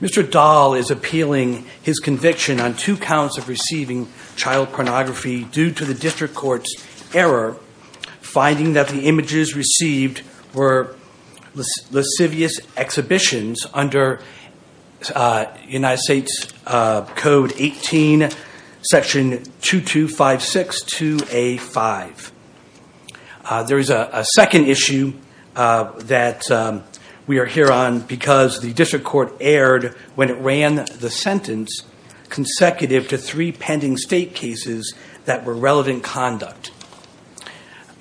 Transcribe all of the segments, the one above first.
Mr. Dahl is appealing his conviction on two counts of receiving child pornography due to the district court's error finding that the images received were lascivious exhibitions under United States Code 18 section 2256-2A-5. There is a second issue that we are here on because the district court erred when it ran the sentence consecutive to three pending state cases that were relevant conduct.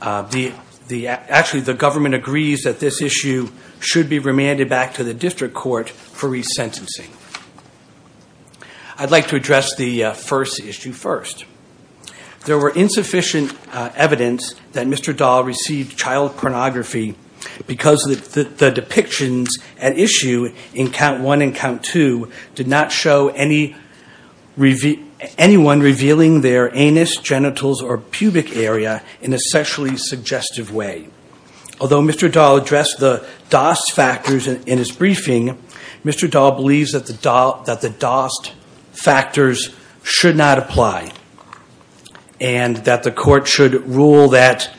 Actually the government agrees that this issue should be remanded back to the district court for resentencing. I'd like to address the first issue first. There were insufficient evidence that Mr. Dahl received child pornography because the depictions at issue in count one and count two did not show anyone revealing their anus, genitals, or pubic area in a sexually suggestive way. Although Mr. Dahl addressed the DOST factors in his briefing, Mr. Dahl believes that the DOST factors should not apply and that the court should rule that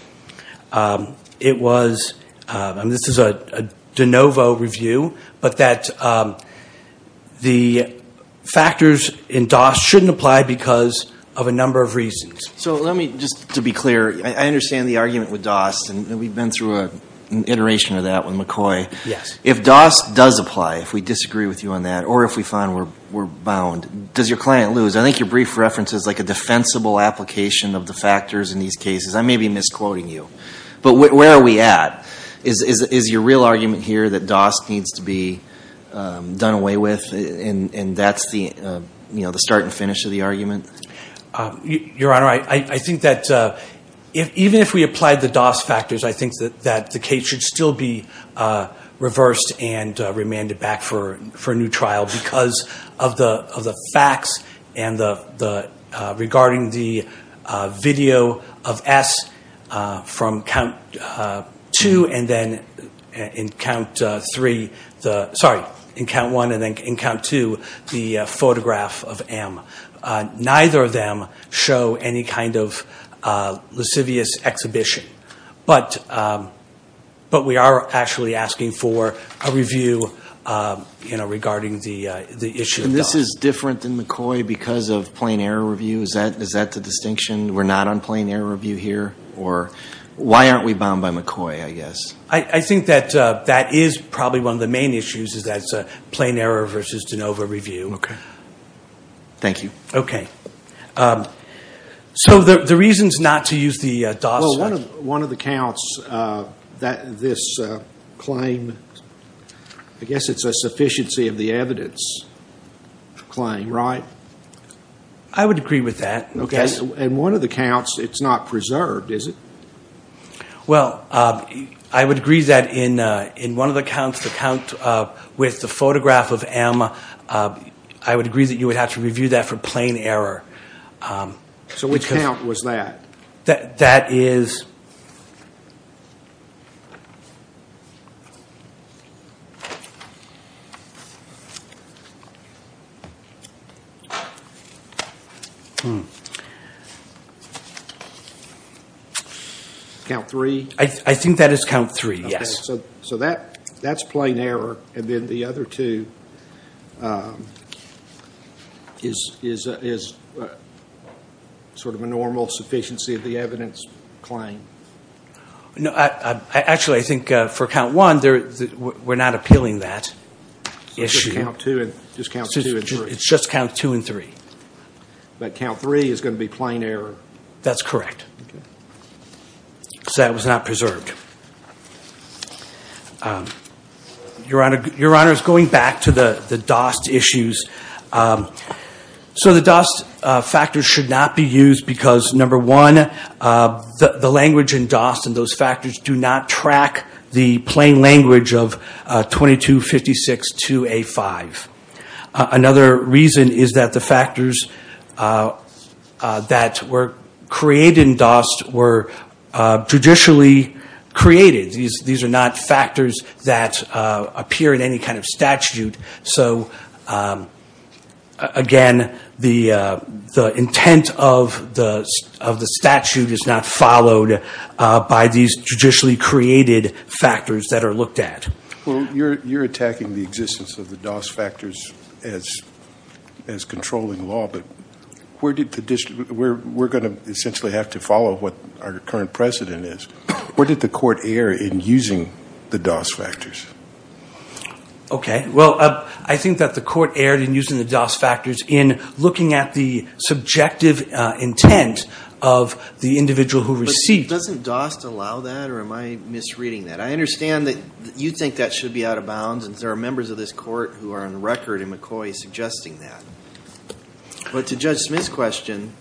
it was, and this is a de novo review, but that the factors in DOST shouldn't apply because of a number of reasons. So let me just to be clear, I understand the argument with DOST and we've been through an iteration of that with McCoy. Yes. If DOST does apply, if we disagree with you on that, or if we find we're bound, does your client lose? I think your brief reference is like a defensible application of the factors in these cases. I may be misquoting you, but where are we at? Is your real argument here that DOST needs to be done away with and that's the, you know, the start and finish of the argument? Your Honor, I think that even if we applied the DOST factors, I think that the case should still be reversed and remanded back for a new trial because of the facts and regarding the video of S from count two and then in count three, sorry, in count one and then in count two, the photograph of M. Neither of them show any kind of lascivious exhibition. But we are actually asking for a review, you know, regarding the issue of DOST. And this is different than McCoy because of plain error review? Is that the distinction? We're not on plain error review here? Or why aren't we bound by McCoy, I guess? I think that that is probably one of the main issues is that's a plain error versus de novo review. Okay. Thank you. Okay. So the reasons not to use the DOST... Well, one of the counts, this claim, I guess it's a sufficiency of the evidence claim, right? I would agree with that. Okay. And one of the counts, it's not preserved, is it? Well, I would agree that in one of the counts, the count with the photograph of M, I would agree that you would have to review that for plain error. So which count was that? That is... Count three? I think that is count three, yes. Okay. So that's plain error. And then the other two is sort of a normal sufficiency of the evidence claim? No. Actually, I think for count one, we're not appealing that issue. Just count two and three? It's just count two and three. But count three is gonna be plain error? That's correct. Okay. So that was not preserved. Your Honor, going back to the DOST issues, so the DOST factors should not be used because, number one, the language in DOST and those factors do not track the plain language of 2256-2A5. Another reason is that the factors that were created in DOST were judicially created. These are not factors that appear in any kind of statute. So again, the intent of the statute is not followed by these judicially created factors that are looked at. Well, you're attacking the existence of the DOST factors as controlling law, but we're gonna essentially have to follow what our current precedent is. Where did the court err in using the DOST factors? Okay. Well, I think that the court erred in using the DOST factors in looking at the subjective intent of the individual who received. Doesn't DOST allow that or am I misreading that? I understand that you think that should be out of bounds and there are members of this court who are on record in McCoy suggesting that, but to Judge Smith's question,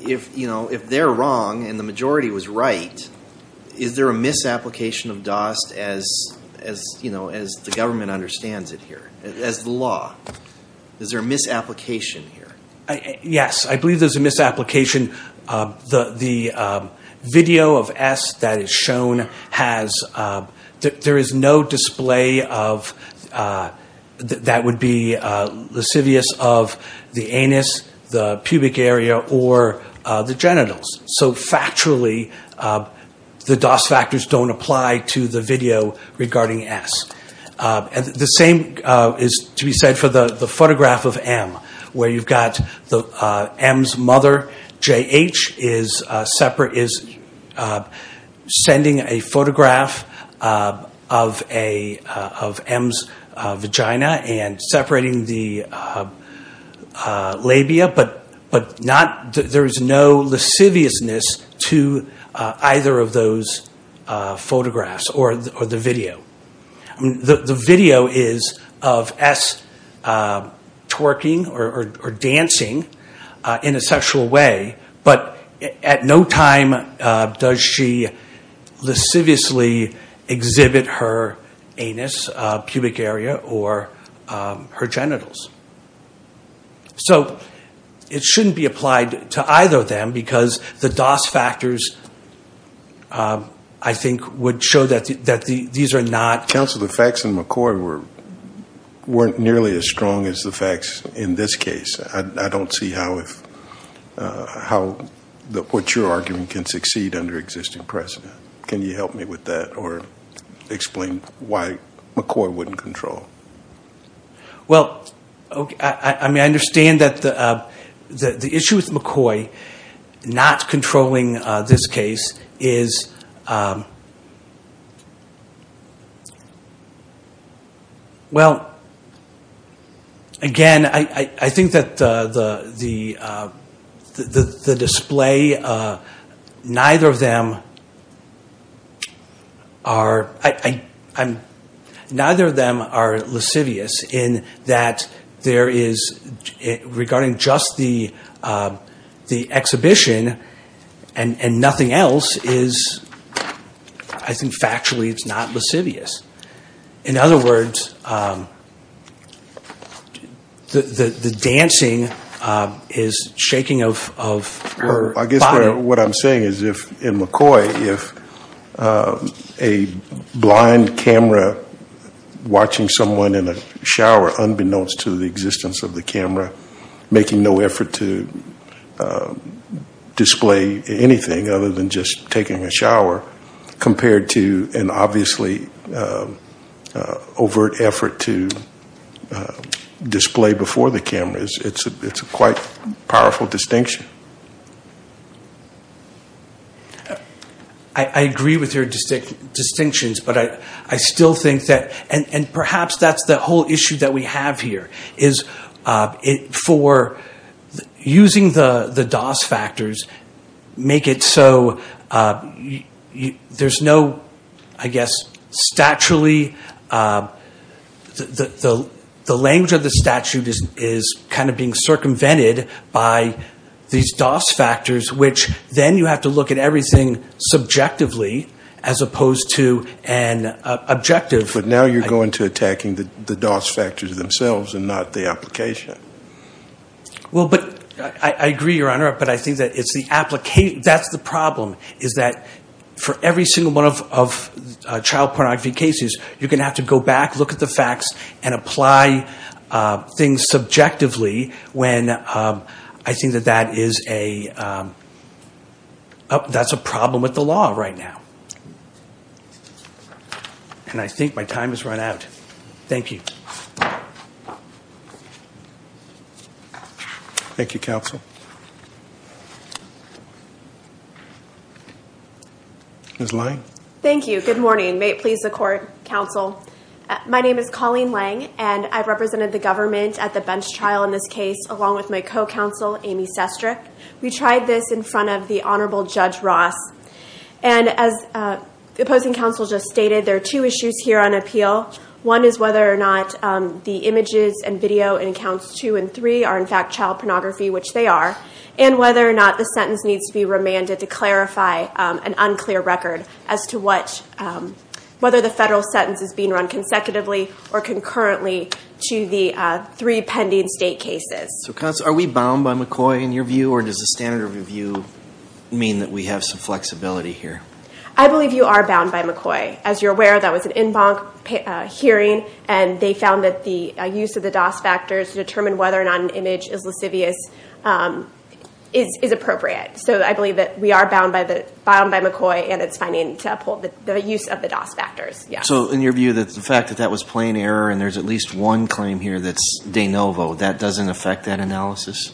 if, you know, if they're wrong and the majority was right, is there a misapplication of DOST as, you know, as the government understands it here, as the law? Is there a misapplication here? Yes, I believe there's a misapplication. The video of S that is shown has, there is no display that would be lascivious of the anus, the pubic area, or the genitals. So factually, the DOST factors don't apply to the video regarding S. The same is to be said for the photograph of M, where you've got M's mother, J.H., is sending a photograph of M's vagina and separating the labia, but not, there's no lasciviousness to either of those photographs or the video. The video is of S twerking or dancing in a sexual way, but at no time does she lasciviously exhibit her anus, pubic area, or her genitals. So it shouldn't be applied to either of them because the DOST factors, I think, would show that these are not... Counselor, the facts in McCoy weren't nearly as strong as the facts in this case. I don't see how what you're arguing can succeed under existing precedent. Can you help me with that or explain why McCoy wouldn't control? Well, okay, I mean, I understand that the issue with McCoy not controlling this case is, well, again, I think that the display, neither of them are, neither of them are lascivious in that there is, regarding just the exhibition and nothing else is, I think, factually it's not lascivious. In other words, the dancing is shaking of her body. I guess what I'm saying is if in McCoy, if a blind camera watching someone in a shower, unbeknownst to the existence of the camera, making no effort to display anything other than just taking a shower compared to an obviously overt effort to display before the camera, it's a quite powerful distinction. I agree with your distinctions, but I still think that, and perhaps that's the whole issue that we have here, is for using the DOS factors, make it so there's no, I guess, statually, the language of the statute is kind of being circumvented by these DOS factors, which then you have to look at everything subjectively as opposed to an objective. But now you're going to attacking the DOS factors themselves and not the application. Well, but I agree, Your Honor, but I think that it's the application, that's the problem, is that for every single one of child pornography cases, you're gonna have to go back, look at the facts, and apply things subjectively when I think that is a, that's a problem with the law right now. And I think my time has run out. Thank you. Thank you, counsel. Ms. Lange. Thank you. Good morning. May it please the court, counsel. My name is Colleen Lange, and I've represented the government at the bench trial in this case, along with my co-counsel, Amy Sestrick. We tried this in front of the Honorable Judge Ross. And as the opposing counsel just stated, there are two issues here on appeal. One is whether or not the images and video in accounts two and three are, in fact, child pornography, which they are, and whether or not the sentence needs to be remanded to clarify an unclear record as to what, whether the federal sentence is being run consecutively or concurrently to the three pending state cases. So, counsel, are we bound by McCoy, in your view, or does the standard review mean that we have some flexibility here? I believe you are bound by McCoy. As you're aware, that was an en banc hearing, and they found that the use of the DOS factors to determine whether or not an image is lascivious is appropriate. So I believe that we are bound by the, bound by McCoy, and it's finding to uphold the use of the DOS factors. Yeah. So, in your view, that's the fact that that was plain error, and there's at least one claim here that's de novo. That doesn't affect that analysis?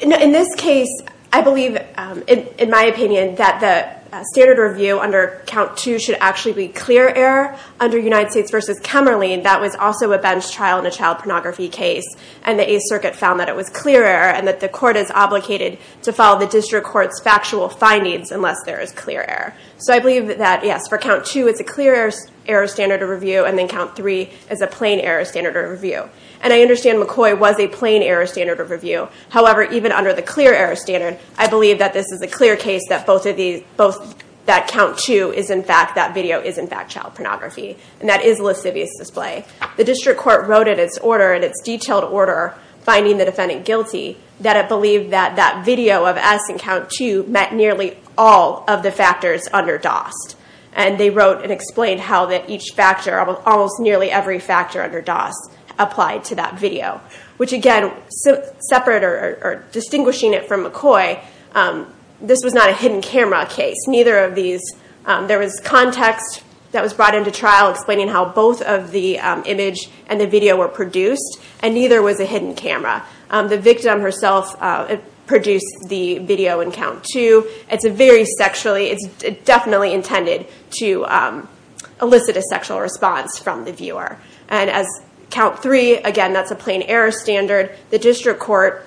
In this case, I believe, in my opinion, that the standard review under count two should actually be clear error under United States v. Kemerling. That was also a bench trial in a child pornography case, and the Eighth Circuit found that it was clear error, and that the court is obligated to follow the district court's factual findings unless there is clear error. So I believe that, yes, for count two, it's a clear error standard of review, and then count three is a plain error standard of review. And I understand McCoy was a plain error standard of review. However, even under the clear error standard, I believe that this is a clear case that both of these, both, that count two is, in fact, that video is, in fact, child pornography, and that is lascivious display. The district court wrote in its order, in its detailed order, finding the defendant guilty, that it believed that that video of S in count two met nearly all of the factors under DOS, and they wrote and explained how that each factor, almost nearly every factor under DOS applied to that video, which again, separate or distinguishing it from McCoy, this was not a hidden camera case. Neither of these, there was context that was brought into trial explaining how both of the image and the video were produced, and neither was a hidden camera. The victim herself produced the video in count two. It's a very sexually, it's definitely intended to elicit a sexual response from the viewer. And as count three, again, that's a plain error standard. The district court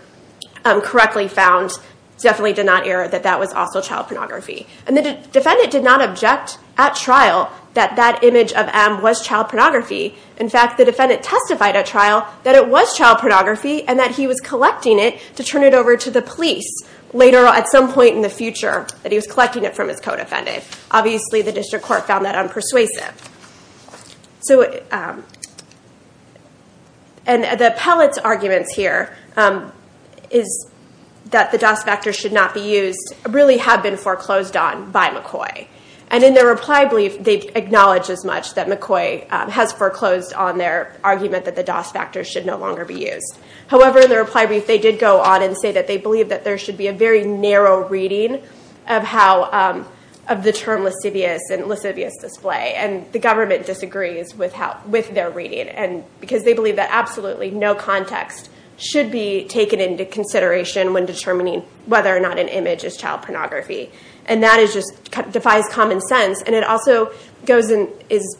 correctly found, definitely did not error, that that was also child pornography. And the defendant did not object at trial that that image of M was child pornography. In fact, the defendant testified at trial that it was child pornography, and that he was collecting it to turn it over to the police. Later, at some point in the future, that he was collecting it from his co-defendant. Obviously, the district court found that unpersuasive. So, and the pellets arguments here is that the DOS factor should not be used, really have been foreclosed on by McCoy. And in their reply brief, they acknowledge as much that McCoy has foreclosed on their argument that the DOS factor should no longer be used. However, in the reply brief, they did go on and say that they believe that there should be a very narrow reading of how, of the term lascivious and lascivious display. And the government disagrees with how, with their reading. And because they believe that absolutely no context should be taken into consideration when determining whether or not an image is child pornography. And that is just, defies common sense. And it also goes and is,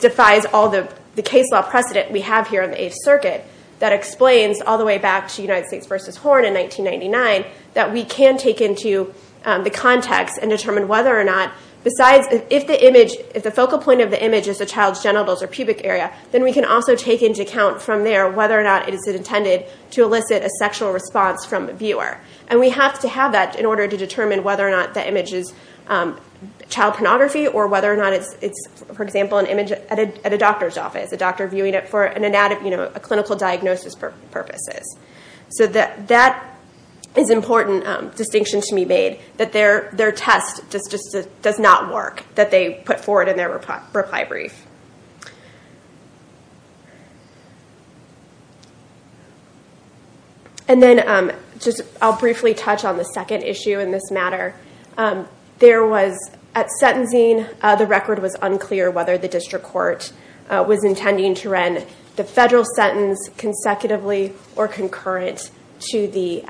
defies all the case law precedent we have here in the Eighth Circuit that explains, all the way back to United States v. Horn in 1999, that we can take into the context and determine whether or not, besides if the image, if the focal point of the image is the child's genitals or pubic area, then we can also take into account from there whether or not it is intended to elicit a sexual response from the viewer. And we have to have that in order to determine whether or not the image is child pornography or whether or not it's, for example, an image at a doctor's office. A doctor viewing it for an anatomy, you know, a doctor's purposes. So that is an important distinction to be made, that their test does not work, that they put forward in their reply brief. And then, I'll briefly touch on the second issue in this matter. There was, at sentencing, the record was unclear whether the district court was intending to run the federal sentence consecutively or concurrent to the,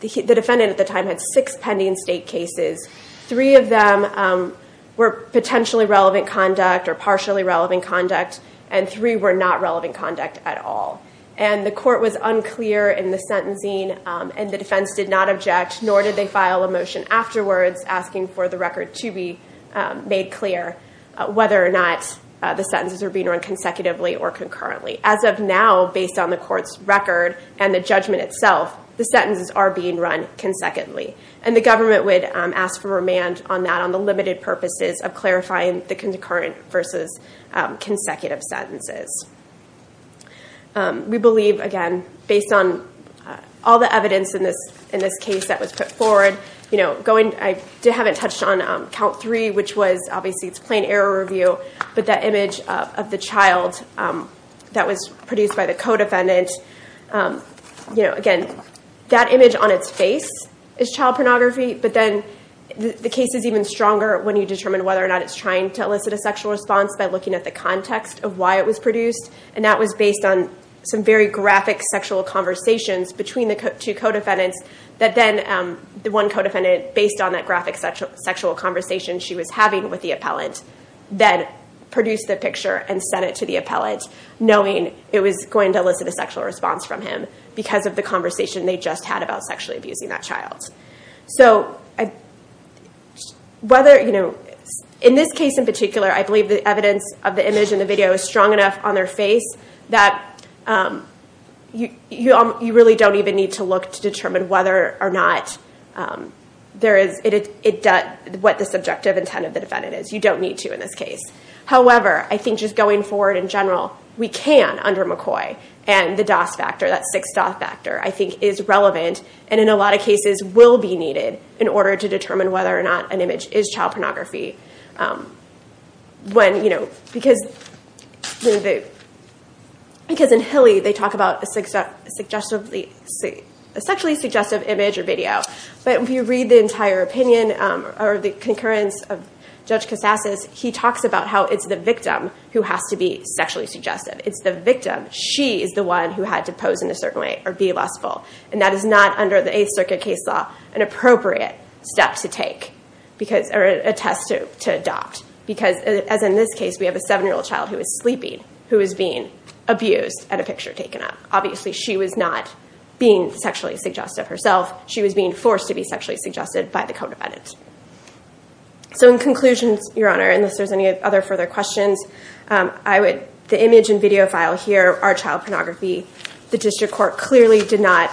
the defendant at the time had six pending state cases. Three of them were potentially relevant conduct or partially relevant conduct and three were not relevant conduct at all. And the court was unclear in the sentencing and the defense did not object, nor did they file a motion afterwards asking for the record to be made clear whether or not the sentences were being run consecutively or concurrently. As of now, based on the court's record and the judgment itself, the sentences are being run consecutively. And the government would ask for remand on that on the limited purposes of clarifying the concurrent versus consecutive sentences. We believe, again, based on all the evidence in this, in this case that was put forward, you know, going, I haven't touched on count three, which was obviously it's plain error review, but that image of the child that was produced by the co-defendant, you know, again, that image on its face is child pornography, but then the case is even stronger when you determine whether or not it's trying to elicit a sexual response by looking at the context of why it was produced. And that was based on some very graphic sexual conversations between the two co-defendants that then, the one co-defendant, based on that graphic sexual conversation she was having with the appellant, then produced the picture and sent it to the appellant, knowing it was going to elicit a sexual response from him because of the conversation they just had about sexually abusing that child. So whether, you know, in this case in particular, I believe the evidence of the image in the video is strong enough on their face that you really don't even need to look to determine whether or not there is, it does, what the subjective intent of the defendant is. You don't need to in this case. However, I think just going forward in general, we can, under McCoy, and the DOS factor, that 6-DOS factor, I think is relevant and in a lot of cases will be needed in order to determine whether or not an image is child pornography. When, you know, because in Hilly they talk about a sexually suggestive image or video, but if you read the entire opinion or the concurrence of Judge Cassas, he talks about how it's the victim who has to be sexually suggestive. It's the victim. She is the one who had to pose in a certain way or be lustful, and that is not under the Eighth Circuit case law an appropriate step to take because, or a test to adopt, because as in this case we have a seven-year-old child who is sleeping, who is being abused at a she was being forced to be sexually suggested by the co-defendant. So in conclusions, Your Honor, unless there's any other further questions, I would, the image and video file here are child pornography. The District Court clearly did not,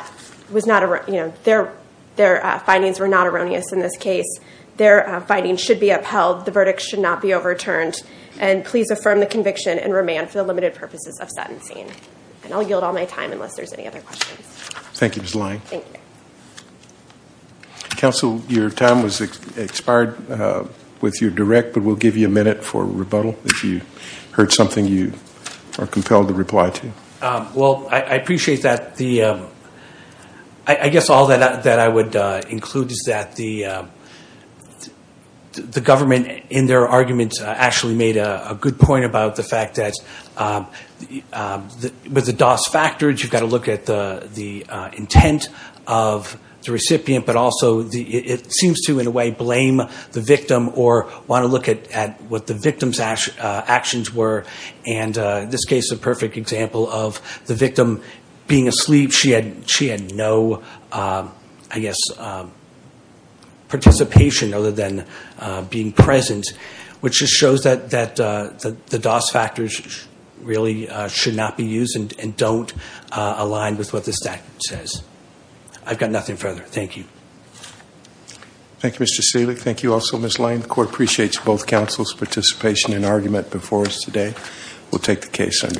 was not, you know, their findings were not erroneous in this case. Their findings should be upheld. The verdict should not be overturned, and please affirm the conviction and remand for the limited purposes of sentencing. And I'll yield all my time unless there's any other questions. Thank you, Ms. Lange. Thank you. Counsel, your time was expired with your direct, but we'll give you a minute for rebuttal if you heard something you are compelled to reply to. Well, I appreciate that the, I guess all that I would include is that the government in their arguments actually made a good point about the fact that with the DOS factors, you've got to look at the the intent of the recipient, but also the, it seems to, in a way, blame the victim or want to look at what the victim's actions were, and this case is a perfect example of the victim being asleep. She had no, I guess, participation other than being present, which just shows that the DOS factors really should not be used and don't align with what the statute says. I've got nothing further. Thank you. Thank you, Mr. Sealy. Thank you also, Ms. Lange. The court appreciates both counsel's participation and argument before us today. We'll take the case under advisement.